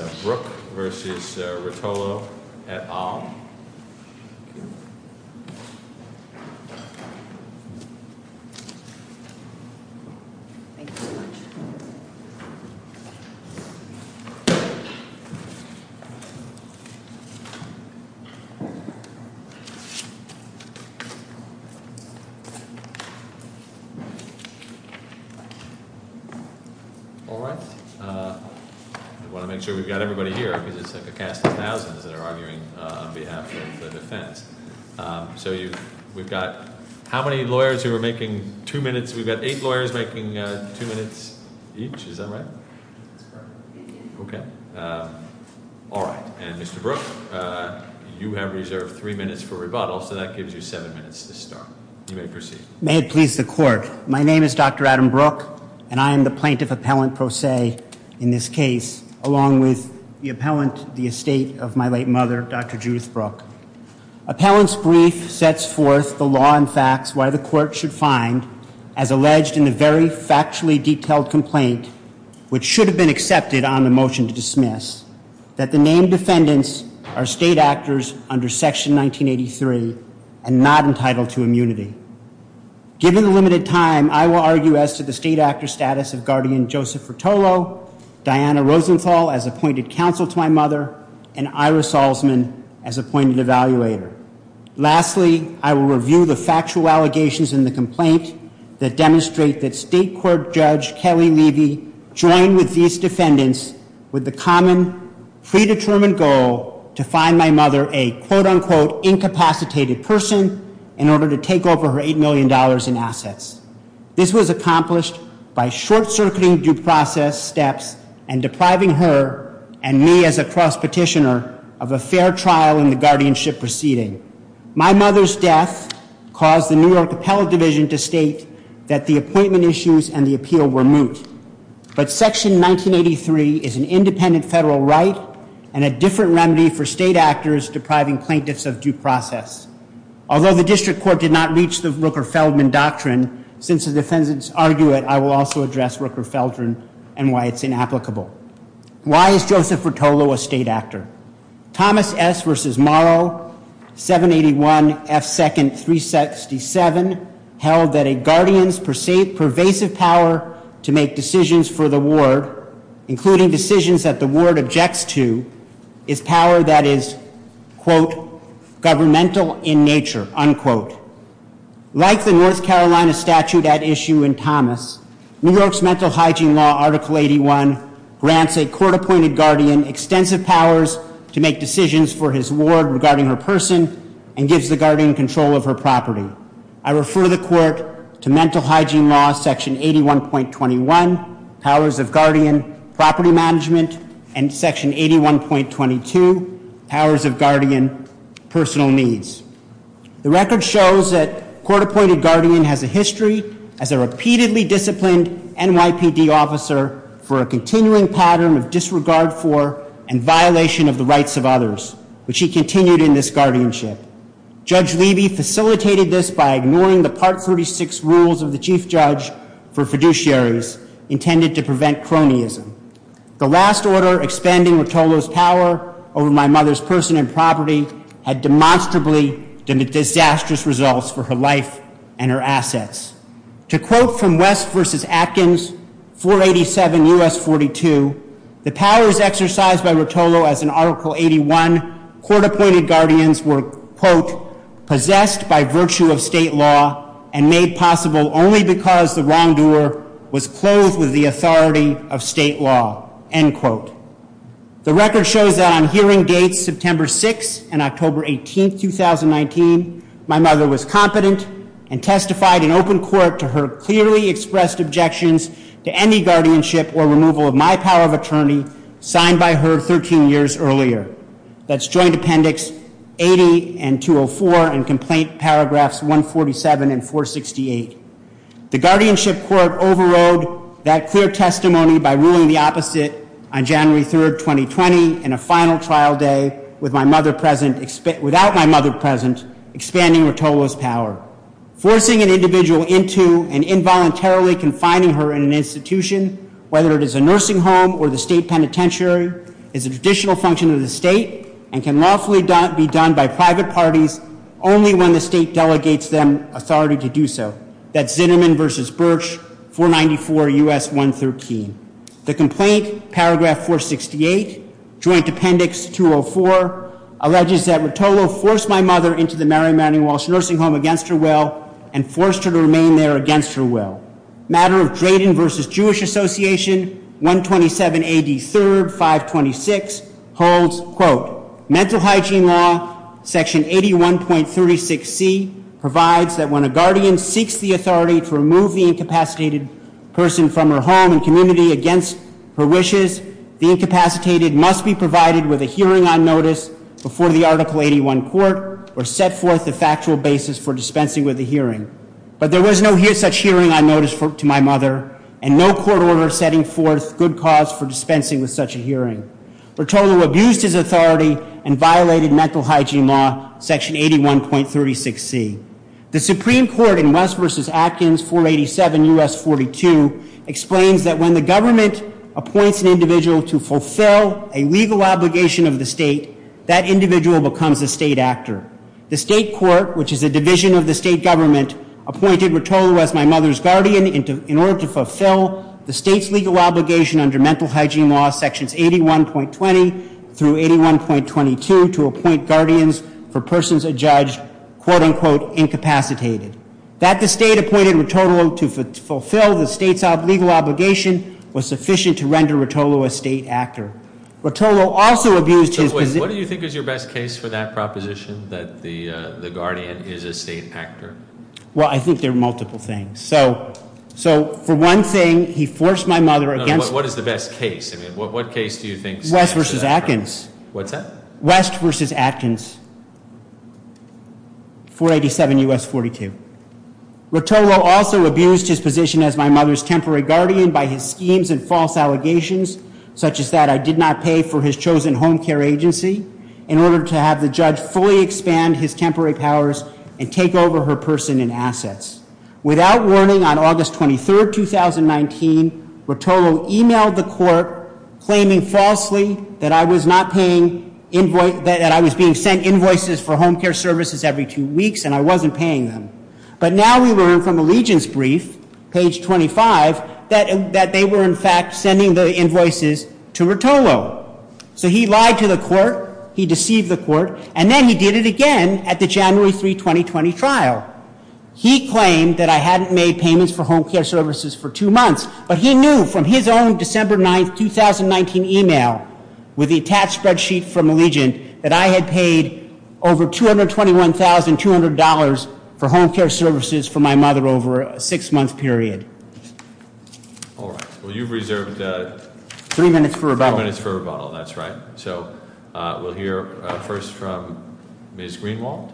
& Aung Thank you very much. I want to make sure we've got everybody here, because it's like a cast of thousands that are arguing on behalf of the defense. So we've got how many lawyers who are making two minutes? We've got eight lawyers making two minutes each, is that right? Okay. All right. And Mr. Brooke, you have reserved three minutes for rebuttal, so that gives you seven minutes to start. You may proceed. May it please the court. My name is Dr. Adam Brooke, and I am the plaintiff appellant pro se in this case, along with the appellant, the estate of my late mother, Dr. Judith Brooke. Appellant's brief sets forth the law and facts why the court should find, as alleged in the very factually detailed complaint, which should have been accepted on the motion to dismiss, that the named defendants are state actors under Section 1983 and not entitled to immunity. Given the limited time, I will argue as to the state actor status of guardian Joseph Fratolo, Diana Rosenthal as appointed counsel to my mother, and Ira Salzman as appointed evaluator. Lastly, I will review the factual allegations in the complaint that demonstrate that State Court Judge Kelly Levy joined with these defendants with the common, predetermined goal to find my mother a quote-unquote incapacitated person in order to take over her $8 million in assets. This was accomplished by short-circuiting due process steps and depriving her and me as a cross petitioner of a fair trial in the guardianship proceeding. My mother's death caused the New York Appellate Division to state that the appointment issues and the appeal were moot. But Section 1983 is an independent federal right and a different remedy for state actors depriving plaintiffs of due process. Although the district court did not reach the Rooker-Feldman doctrine, since the defendants argue it, I will also address Rooker-Feldman and why it's inapplicable. Why is Joseph Fratolo a state actor? Thomas S. v. Morrow, 781 F. 2nd. 367 held that a guardian's pervasive power to make decisions for the ward, including decisions that the ward objects to, is power that is quote, governmental in nature, unquote. Like the North Carolina statute at issue in Thomas, New York's mental hygiene law, Article 81, grants a court-appointed guardian extensive powers to make decisions for his ward regarding her person and gives the guardian control of her property. I refer the court to mental hygiene law, section 81.21, powers of guardian, property management, and section 81.22, powers of guardian, personal needs. The record shows that court-appointed guardian has a history as a repeatedly disciplined NYPD officer for a continuing pattern of disregard for and violation of the rights of others, which he continued in this guardianship. Judge Levy facilitated this by ignoring the part 36 rules of the chief judge for fiduciaries intended to prevent cronyism. The last order expending Rotolo's power over my mother's person and property had demonstrably disastrous results for her life and her assets. To quote from West versus Atkins, 487 US 42, the powers exercised by Rotolo as an Article 81 court-appointed guardians were quote, possessed by virtue of state law and made possible only because the wrongdoer was clothed with the authority of state law, end quote. The record shows that on hearing dates September 6th and October 18th, 2019, my mother was competent and testified in open court to her clearly expressed objections to any guardianship or removal of my power of attorney signed by her 13 years earlier. That's joint appendix 80 and 204 and complaint paragraphs 147 and 468. The guardianship court overrode that clear testimony by ruling the opposite on January 3rd, 2020 in a final trial day without my mother present, expanding Rotolo's power. Forcing an individual into and involuntarily confining her in an institution, whether it is a nursing home or the state penitentiary, is a traditional function of the state and can lawfully be done by private parties only when the state delegates them authority to do so. That's Zinnerman versus Birch, 494 US 113. The complaint, paragraph 468, joint appendix 204, alleges that Rotolo forced my mother into the Mary Manning Walsh Nursing Home against her will and forced her to remain there against her will. Matter of Drayden versus Jewish Association, 127 AD 3rd, 526, holds, quote, mental hygiene law section 81.36c provides that when a guardian seeks the authority to remove the incapacitated person from her home and community against her wishes, the incapacitated must be provided with a hearing on notice before the article 81 court or set forth the factual basis for dispensing with the hearing. But there was no such hearing on notice to my mother and no court order setting forth good cause for dispensing with such a hearing. Rotolo abused his authority and violated mental hygiene law, section 81.36c. The Supreme Court in West versus Atkins, 487 US 42 explains that when the government appoints an individual to fulfill a legal obligation of the state, that individual becomes a state actor. The state court, which is a division of the state government, appointed Rotolo as my mother's guardian in order to fulfill the state's legal obligation under mental hygiene law sections 81.20 through 81.22 to appoint guardians. For persons adjudged, quote unquote, incapacitated. That the state appointed Rotolo to fulfill the state's legal obligation was sufficient to render Rotolo a state actor. Rotolo also abused his- So wait, what do you think is your best case for that proposition, that the guardian is a state actor? Well, I think there are multiple things. So, for one thing, he forced my mother against- What is the best case, I mean, what case do you think- West versus Atkins. What's that? West versus Atkins, 487 US 42. Rotolo also abused his position as my mother's temporary guardian by his schemes and false allegations, such as that I did not pay for his chosen home care agency, in order to have the judge fully expand his temporary powers and take over her person and assets. Without warning, on August 23rd, 2019, Rotolo emailed the court claiming falsely that I was being sent invoices for home care services every two weeks and I wasn't paying them. But now we learn from Allegiance Brief, page 25, that they were in fact sending the invoices to Rotolo. So he lied to the court, he deceived the court, and then he did it again at the January 3, 2020 trial. He claimed that I hadn't made payments for home care services for two months. But he knew from his own December 9th, 2019 email, with the attached spreadsheet from Allegiant, that I had paid over $221,200 for home care services for my mother over a six month period. All right, well you've reserved- Three minutes for rebuttal. Three minutes for rebuttal, that's right. So we'll hear first from Ms. Greenwald.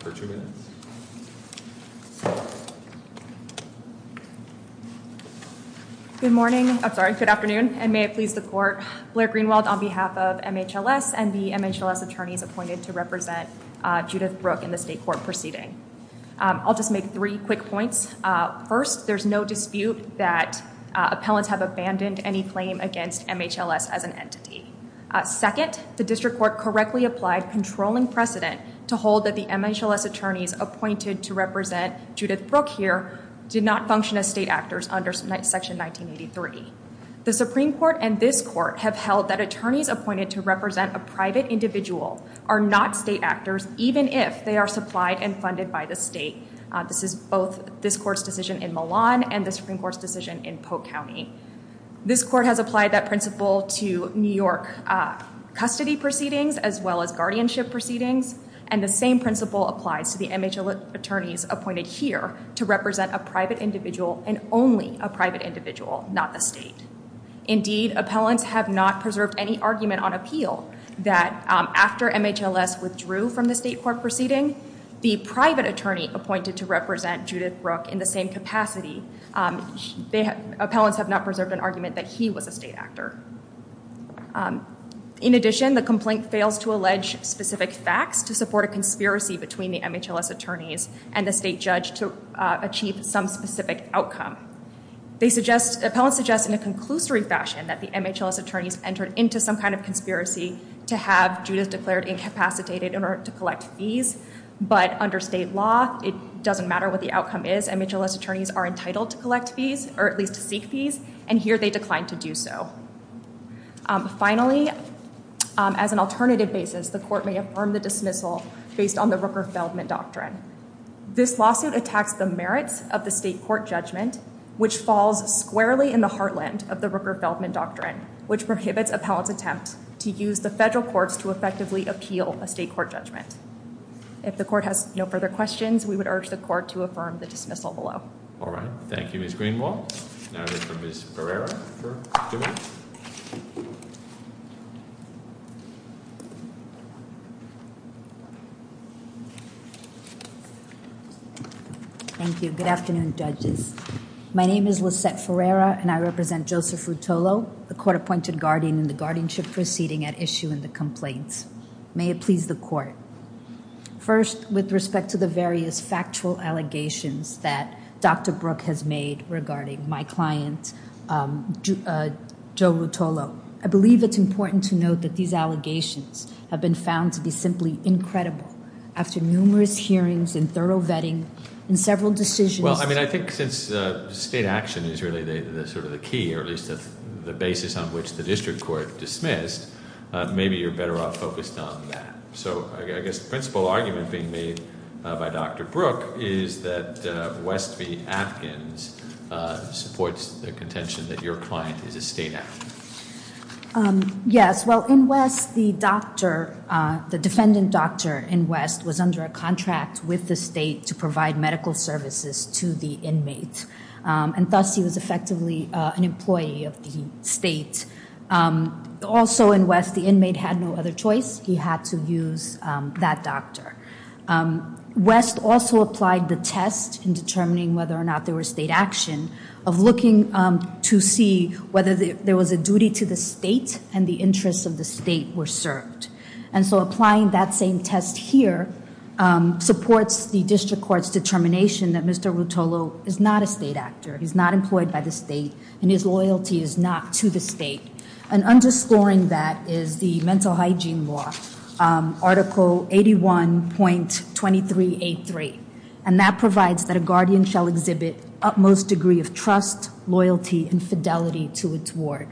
For two minutes. Good morning, I'm sorry, good afternoon, and may it please the court. Blair Greenwald on behalf of MHLS and the MHLS attorneys appointed to represent Judith Brooke in the state court proceeding. I'll just make three quick points. First, there's no dispute that appellants have abandoned any claim against MHLS as an entity. Second, the district court correctly applied controlling precedent to hold that the MHLS attorneys appointed to represent Judith Brooke here did not function as state actors under section 1983. The Supreme Court and this court have held that attorneys appointed to represent a private individual are not state actors, even if they are supplied and funded by the state. This is both this court's decision in Milan and the Supreme Court's decision in Polk County. This court has applied that principle to New York custody proceedings, as well as guardianship proceedings. And the same principle applies to the MHLS attorneys appointed here to represent a private individual and only a private individual, not the state. Indeed, appellants have not preserved any argument on appeal that after MHLS withdrew from the state court proceeding, the private attorney appointed to represent Judith Brooke in the same capacity, the appellants have not preserved an argument that he was a state actor. In addition, the complaint fails to allege specific facts to support a conspiracy between the MHLS attorneys and the state judge to achieve some specific outcome. Appellants suggest in a conclusory fashion that the MHLS attorneys entered into some kind of conspiracy to have Judith declared incapacitated in order to collect fees. But under state law, it doesn't matter what the outcome is. MHLS attorneys are entitled to collect fees, or at least seek fees. And here they declined to do so. Finally, as an alternative basis, the court may affirm the dismissal based on the Rooker-Feldman Doctrine. This lawsuit attacks the merits of the state court judgment, which falls squarely in the heartland of the Rooker-Feldman Doctrine, which prohibits appellants' attempt to use the federal courts to effectively appeal a state court judgment. If the court has no further questions, we would urge the court to affirm the dismissal. All right. Thank you, Ms. Greenwald. Now we have Ms. Ferreira. Thank you. Good afternoon, judges. My name is Lisette Ferreira, and I represent Joseph Rutolo, the court-appointed guardian in the guardianship proceeding at issue in the complaints. May it please the court. First, with respect to the various factual allegations that Dr. Brook has made regarding my client, Joe Rutolo, I believe it's important to note that these allegations have been found to be simply incredible. After numerous hearings and thorough vetting and several decisions— Well, I mean, I think since state action is really sort of the key, or at least the basis on which the district court dismissed, maybe you're better off focused on that. So I guess the principal argument being made by Dr. Brook is that West v. Atkins supports the contention that your client is a state applicant. Yes. Well, in West, the doctor, the defendant doctor in West was under a contract with the state to provide medical services to the inmate. And thus, he was effectively an employee of the state. Also in West, the inmate had no other choice. He had to use that doctor. West also applied the test in determining whether or not there was state action of looking to see whether there was a duty to the state and the interests of the state were served. And so applying that same test here supports the district court's determination that Mr. Rutolo is not a state actor. He's not employed by the state and his loyalty is not to the state. And underscoring that is the mental hygiene law, article 81.2383. And that provides that a guardian shall exhibit utmost degree of trust, loyalty, and fidelity to its ward.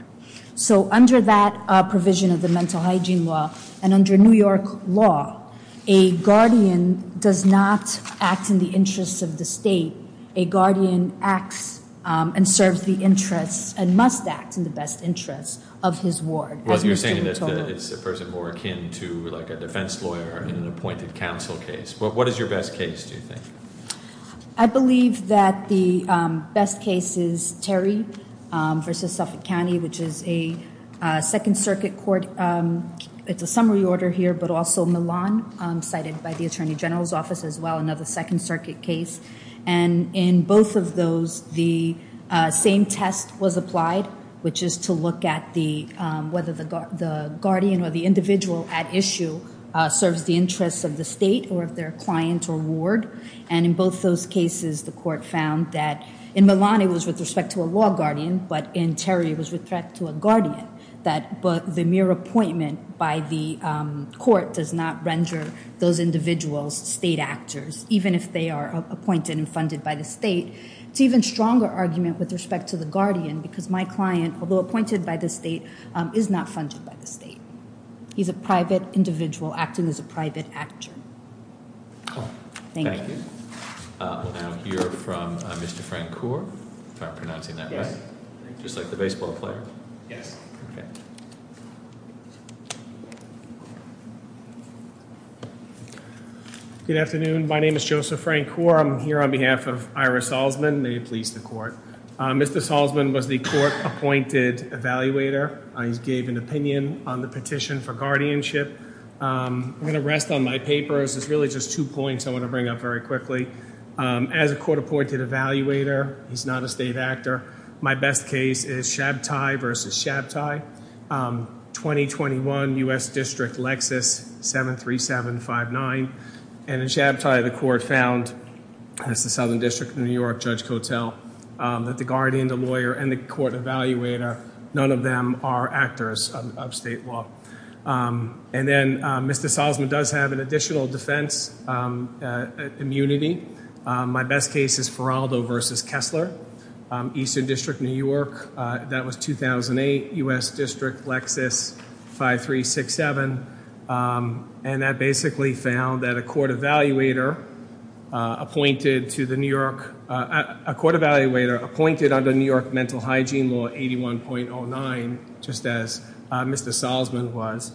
So under that provision of the mental hygiene law and under New York law, a guardian does not act in the interests of the state. A guardian acts and serves the interests and must act in the best interests of his ward. Well, you're saying that it's a person more akin to like a defense lawyer in an appointed counsel case. What is your best case, do you think? I believe that the best case is Terry versus Suffolk County, which is a second circuit court. It's a summary order here, but also Milan, cited by the attorney general's office as well, another second circuit case. And in both of those, the same test was applied, which is to look at whether the guardian or the individual at issue serves the interests of the state or of their client or ward. And in both those cases, the court found that in Milan, it was with respect to a law guardian, but in Terry, it was with respect to a guardian. But the mere appointment by the court does not render those individuals state actors, even if they are appointed and funded by the state. It's even stronger argument with respect to the guardian, because my client, although appointed by the state, is not funded by the state. He's a private individual acting as a private actor. Cool. Thank you. Thank you. We'll now hear from Mr. Frank Kaur. Am I pronouncing that right? Yes. Just like the baseball player? Yes. Good afternoon. My name is Joseph Frank Kaur. I'm here on behalf of Ira Salzman. May it please the court. Mr. Salzman was the court-appointed evaluator. He gave an opinion on the petition for guardianship. I'm going to rest on my papers. It's really just two points I want to bring up very quickly. As a court-appointed evaluator, he's not a state actor. My best case is Shabtai versus Shabtai, 2021, U.S. District, Lexis, 73759. And in Shabtai, the court found, that's the Southern District of New York, Judge Kotel, that the guardian, the lawyer, and the court evaluator, none of them are actors of state law. And then Mr. Salzman does have an additional defense immunity. My best case is Faraldo versus Kessler, Eastern District, New York. That was 2008, U.S. District, Lexis, 5367. And that basically found that a court evaluator appointed to the New York, a court evaluator appointed under New York Mental Hygiene Law 81.09, just as Mr. Salzman was,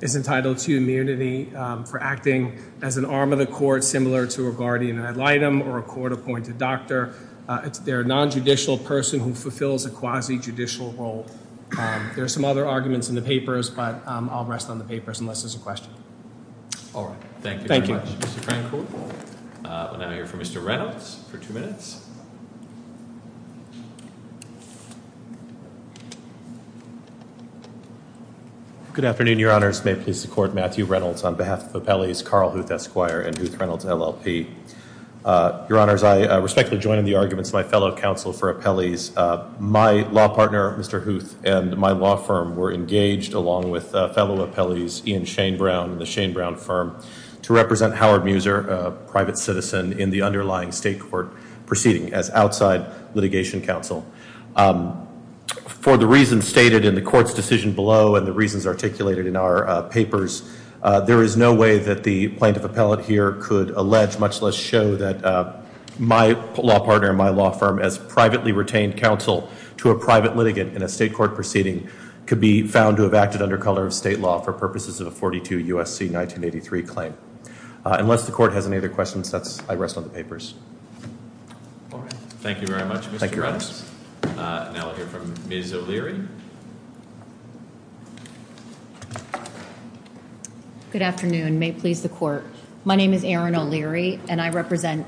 is entitled to immunity for acting as an arm of the court, similar to a guardian ad litem or a court-appointed doctor. They're a nonjudicial person who fulfills a quasi-judicial role. There are some other arguments in the papers, but I'll rest on the papers unless there's a question. All right. Thank you very much, Mr. Crancourt. We'll now hear from Mr. Reynolds for two minutes. Good afternoon, Your Honors. May it please the Court, Matthew Reynolds, on behalf of Appellees Carl Huth Esquire and Huth Reynolds LLP. Your Honors, I respectfully join in the arguments of my fellow counsel for Appellees. My law partner, Mr. Huth, and my law firm were engaged, along with fellow appellees Ian Shane Brown and the Shane Brown firm, to represent Howard Muser, a private citizen, in the underlying state court proceeding as outside litigation counsel. For the reasons stated in the court's decision below and the reasons articulated in our papers, there is no way that the plaintiff appellate here could allege, much less show, that my law partner and my law firm as privately retained counsel to a private litigant in a state court proceeding could be found to have acted under color of state law for purposes of a 42 U.S.C. 1983 claim. Unless the Court has any other questions, I rest on the papers. All right. Thank you very much, Mr. Reynolds. Now we'll hear from Ms. O'Leary. Good afternoon. May it please the Court. My name is Erin O'Leary, and I represent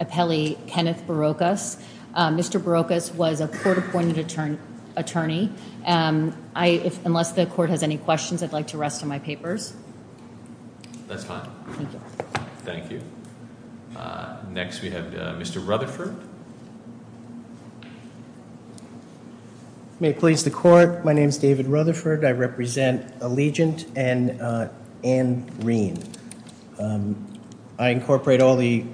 Appellee Kenneth Barocas. Mr. Barocas was a court-appointed attorney. Unless the Court has any questions, I'd like to rest on my papers. That's fine. Thank you. Thank you. Next, we have Mr. Rutherford. May it please the Court. My name is David Rutherford. I represent Allegiant and Ann Reen. I incorporate all the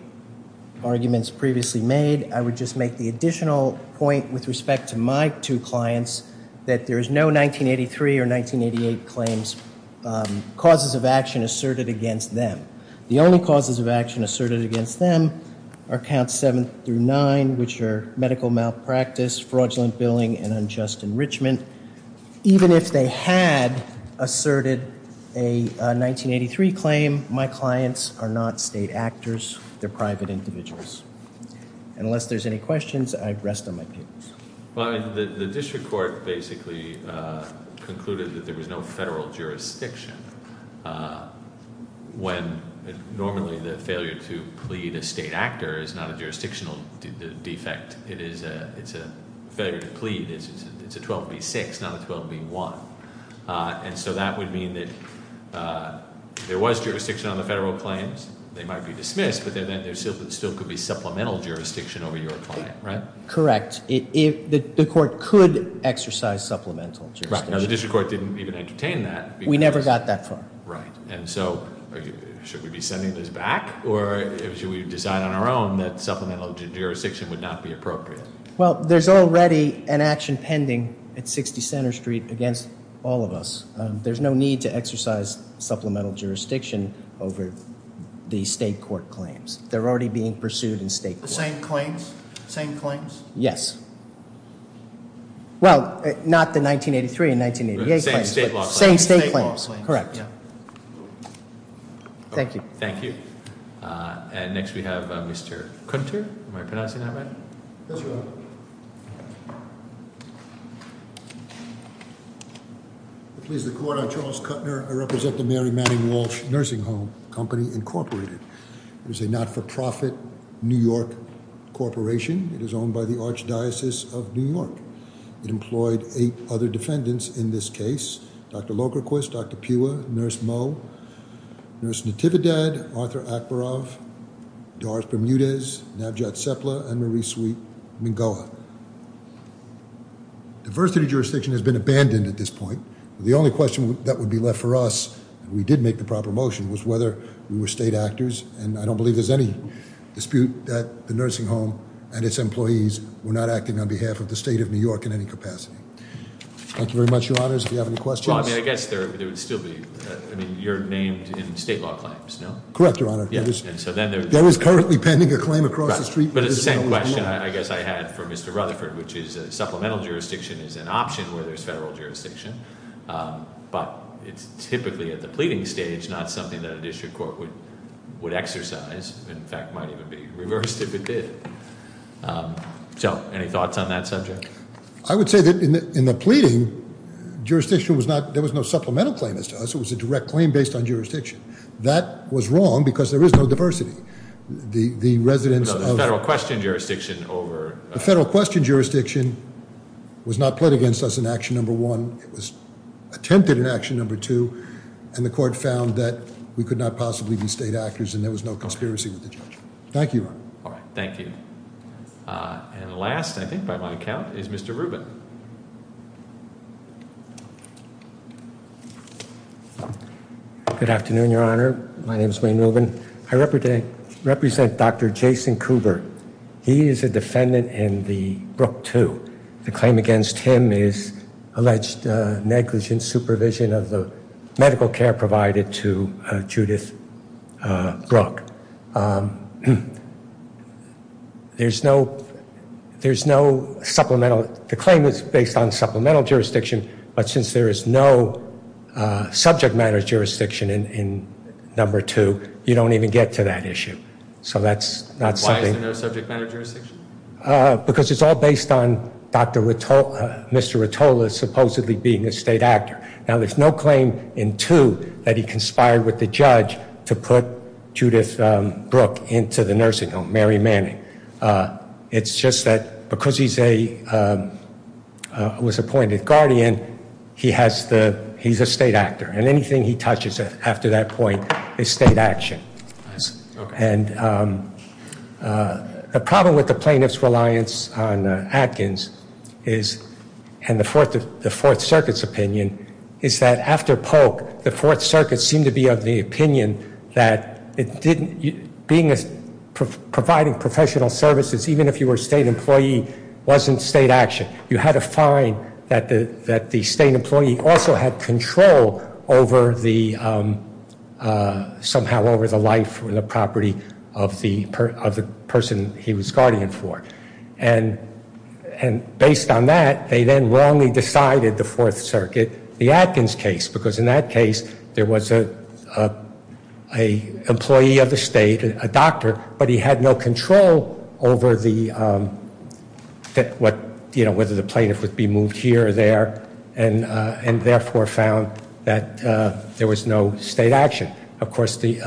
arguments previously made. I would just make the additional point with respect to my two clients that there is no 1983 or 1988 claims causes of action asserted against them. The only causes of action asserted against them are Counts 7 through 9, which are medical malpractice, fraudulent billing, and unjust enrichment. Even if they had asserted a 1983 claim, my clients are not state actors. They're private individuals. And unless there's any questions, I'd rest on my papers. Well, the District Court basically concluded that there was no federal jurisdiction when normally the failure to plead a state actor is not a jurisdictional defect. It's a failure to plead. It's a 12B6, not a 12B1. And so that would mean that there was jurisdiction on the federal claims. They might be dismissed, but then there still could be supplemental jurisdiction over your client, right? Correct. The court could exercise supplemental jurisdiction. Now, the District Court didn't even entertain that. We never got that far. Right. And so should we be sending this back or should we decide on our own that supplemental jurisdiction would not be appropriate? Well, there's already an action pending at 60 Center Street against all of us. There's no need to exercise supplemental jurisdiction over the state court claims. They're already being pursued in state court. The same claims? Same claims? Yes. Well, not the 1983 and 1988 claims. The same state law claims. Same state claims. Thank you. Thank you. And next we have Mr. Kunter. Am I pronouncing that right? Yes, you are. I please the court, I'm Charles Kutner. I represent the Mary Manning Walsh Nursing Home Company, Incorporated. It is a not-for-profit New York corporation. It is owned by the Archdiocese of New York. It employed eight other defendants in this case. Dr. Logerquist, Dr. Pua, Nurse Moe, Nurse Natividad, Arthur Akhbarov, Doris Bermudez, Navjot Sepla, and Marie Sweet-Mingoa. Diversity jurisdiction has been abandoned at this point. The only question that would be left for us, and we did make the proper motion, was whether we were state actors. And I don't believe there's any dispute that the nursing home and its employees were not acting on behalf of the state of New York in any capacity. Thank you very much, your honors. If you have any questions. Well, I mean, I guess there would still be, I mean, you're named in state law claims, no? Correct, your honor. There is currently pending a claim across the street. But the same question I guess I had for Mr. Rutherford, which is supplemental jurisdiction is an option where there's federal jurisdiction. But it's typically at the pleading stage, not something that a district court would exercise. In fact, might even be reversed if it did. So any thoughts on that subject? I would say that in the pleading, jurisdiction was not, there was no supplemental claim as to us. It was a direct claim based on jurisdiction. That was wrong because there is no diversity. The residents of- The federal question jurisdiction over- The federal question jurisdiction was not pled against us in action number one. It was attempted in action number two. And the court found that we could not possibly be state actors and there was no conspiracy with the judge. Thank you, your honor. All right, thank you. And last, I think by my count, is Mr. Rubin. Good afternoon, your honor. My name is Wayne Rubin. I represent Dr. Jason Cooper. He is a defendant in the Brooke 2. The claim against him is alleged negligent supervision of the medical care provided to Judith Brooke. There's no supplemental, the claim is based on supplemental jurisdiction. But since there is no subject matter jurisdiction in number two, you don't even get to that issue. So that's not something- Why is there no subject matter jurisdiction? Because it's all based on Mr. Rotola supposedly being a state actor. Now there's no claim in two that he conspired with the judge to put Judith Brooke into the nursing home, Mary Manning. It's just that because he's a- was appointed guardian, he's a state actor. And anything he touches after that point is state action. And the problem with the plaintiff's reliance on Atkins is, and the Fourth Circuit's opinion, is that after Polk, the Fourth Circuit seemed to be of the opinion that providing professional services, even if you were a state employee, wasn't state action. You had to find that the state employee also had control over the- somehow over the life or the property of the person he was guardian for. And based on that, they then wrongly decided the Fourth Circuit, the Atkins case, because in that case, there was a employee of the state, a doctor, but he had no control over the- you know, whether the plaintiff would be moved here or there. And therefore found that there was no state action. Of course, the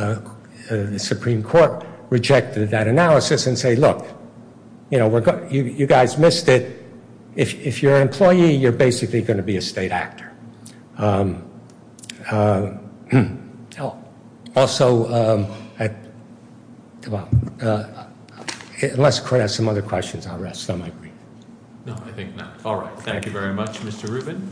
Supreme Court rejected that analysis and say, look, you know, you guys missed it. If you're an employee, you're basically going to be a state actor. Also, unless the court has some other questions, I'll rest on my brief. No, I think not. All right, thank you very much, Mr. Rubin.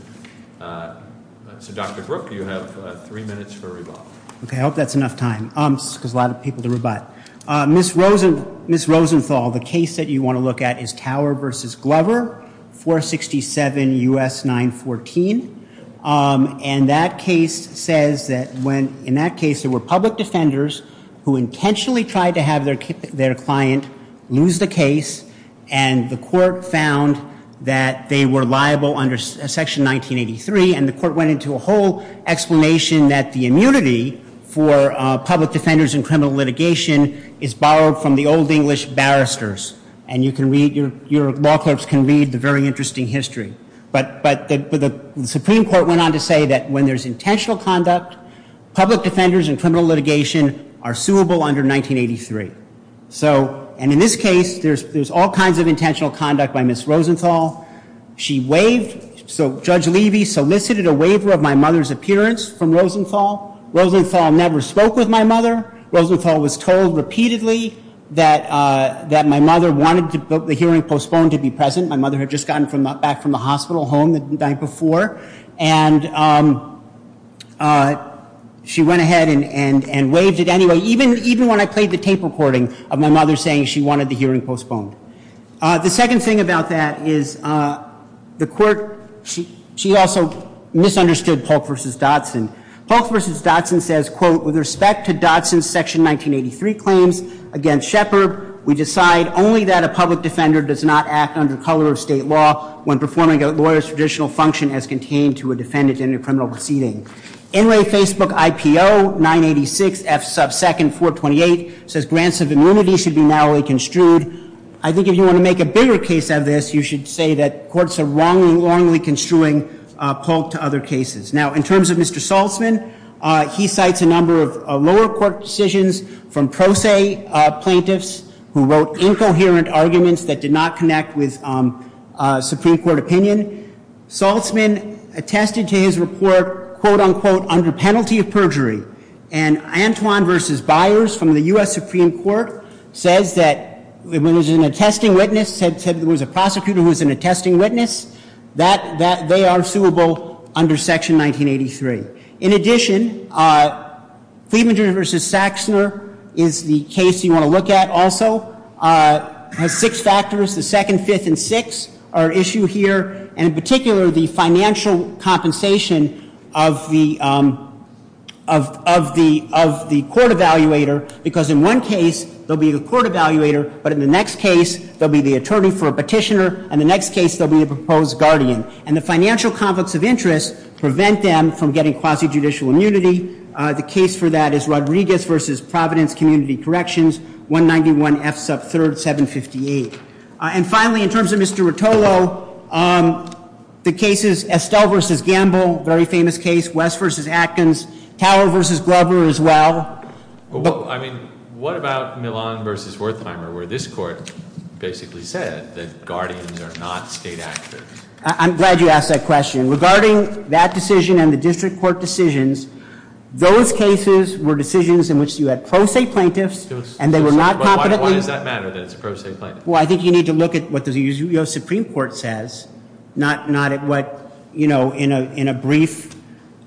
So, Dr. Brook, you have three minutes for rebuttal. Okay, I hope that's enough time, because a lot of people to rebut. Ms. Rosenthal, the case that you want to look at is Tower v. Glover, 467 U.S. 914. And that case says that when- in that case, there were public defenders who intentionally tried to have their client lose the case, and the court found that they were liable under Section 1983. And the court went into a whole explanation that the immunity for public defenders in criminal litigation is borrowed from the old English barristers. And you can read- your law clerks can read the very interesting history. But the Supreme Court went on to say that when there's intentional conduct, public defenders in criminal litigation are suable under 1983. So- and in this case, there's all kinds of intentional conduct by Ms. Rosenthal. She waived- so Judge Levy solicited a waiver of my mother's appearance from Rosenthal. Rosenthal never spoke with my mother. Rosenthal was told repeatedly that my mother wanted the hearing postponed to be present. My mother had just gotten back from the hospital home the night before. And she went ahead and waived it anyway. Even when I played the tape recording of my mother saying she wanted the hearing postponed. The second thing about that is the court- she also misunderstood Polk v. Dotson. Polk v. Dotson says, quote, with respect to Dotson's Section 1983 claims against Shepard, we decide only that a public defender does not act under color of state law when performing a lawyer's traditional function as contained to a defendant in a criminal proceeding. NRA Facebook IPO 986 F sub 2nd 428 says grants of immunity should be narrowly construed. I think if you want to make a bigger case of this, you should say that courts are wrongly, wrongly construing Polk to other cases. Now, in terms of Mr. Saltzman, he cites a number of lower court decisions from pro se plaintiffs who wrote incoherent arguments that did not connect with Supreme Court opinion. Saltzman attested to his report, quote, unquote, under penalty of perjury. And Antwon v. Byers from the U.S. Supreme Court says that when there's an attesting witness, said there was a prosecutor who was an attesting witness, that they are suable under Section 1983. In addition, Fleming v. Saxner is the case you want to look at also. Has six factors, the 2nd, 5th, and 6th are issue here. In particular, the financial compensation of the court evaluator, because in one case, there'll be the court evaluator, but in the next case, there'll be the attorney for a petitioner, and the next case, there'll be the proposed guardian. And the financial conflicts of interest prevent them from getting quasi-judicial immunity. The case for that is Rodriguez v. Providence Community Corrections, 191 F sub 3rd, 758. And finally, in terms of Mr. Rotolo, the cases Estelle v. Gamble, very famous case, West v. Atkins, Tower v. Glover as well. I mean, what about Milan v. Wertheimer, where this court basically said that guardians are not state actors? I'm glad you asked that question. Regarding that decision and the district court decisions, those cases were decisions in which you had pro se plaintiffs, and they were not competently... Why does that matter, that it's a pro se plaintiff? Well, I think you need to look at what the U.S. Supreme Court says. Not at what, you know, in a brief...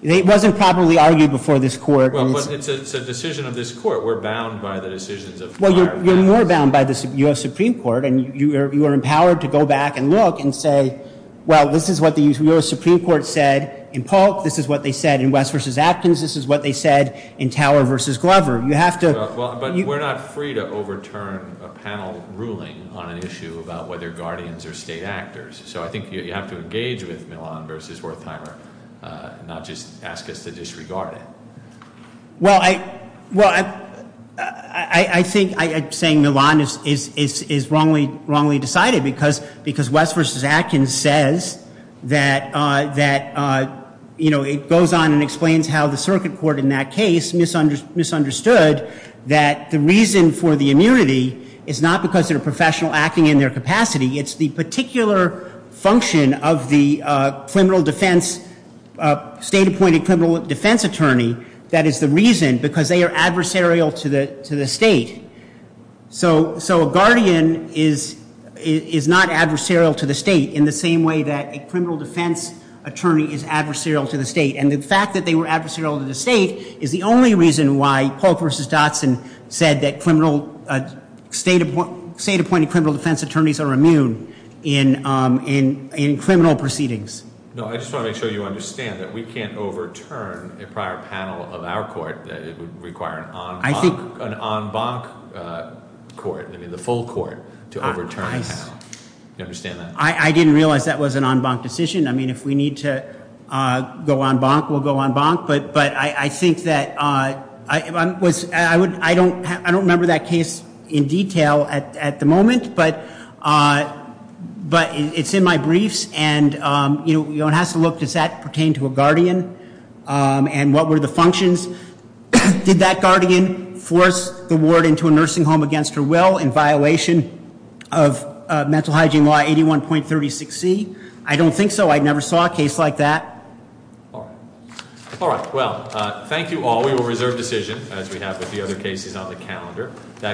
It wasn't properly argued before this court. Well, but it's a decision of this court. We're bound by the decisions of... Well, you're more bound by the U.S. Supreme Court, and you are empowered to go back and look and say, well, this is what the U.S. Supreme Court said in Polk. This is what they said in West v. Atkins. This is what they said in Tower v. Glover. You have to... But we're not free to overturn a panel ruling on an issue about whether guardians are state actors. So I think you have to engage with Milan v. Wertheimer, not just ask us to disregard it. Well, I think saying Milan is wrongly decided because West v. Atkins says that, you know, it goes on and explains how the circuit court in that case misunderstood that the reason for the immunity is not because they're a professional acting in their capacity. It's the particular function of the state-appointed criminal defense attorney that is the reason because they are adversarial to the state. So a guardian is not adversarial to the state in the same way that a criminal defense attorney is adversarial to the state. And the fact that they were adversarial to the state is the only reason why Polk v. Dotson said that state-appointed criminal defense attorneys are immune in criminal proceedings. No, I just want to make sure you understand that we can't overturn a prior panel of our court. It would require an en banc court, I mean, the full court to overturn a panel. Do you understand that? I didn't realize that was an en banc decision. I mean, if we need to go en banc, we'll go en banc. But I think that I don't remember that case in detail at the moment. But it's in my briefs. And it has to look, does that pertain to a guardian? And what were the functions? Did that guardian force the ward into a nursing home against her will in violation of mental hygiene law 81.36c? I don't think so. I never saw a case like that. All right. All right, well, thank you all. We will reserve decision, as we have with the other cases on the calendar. That.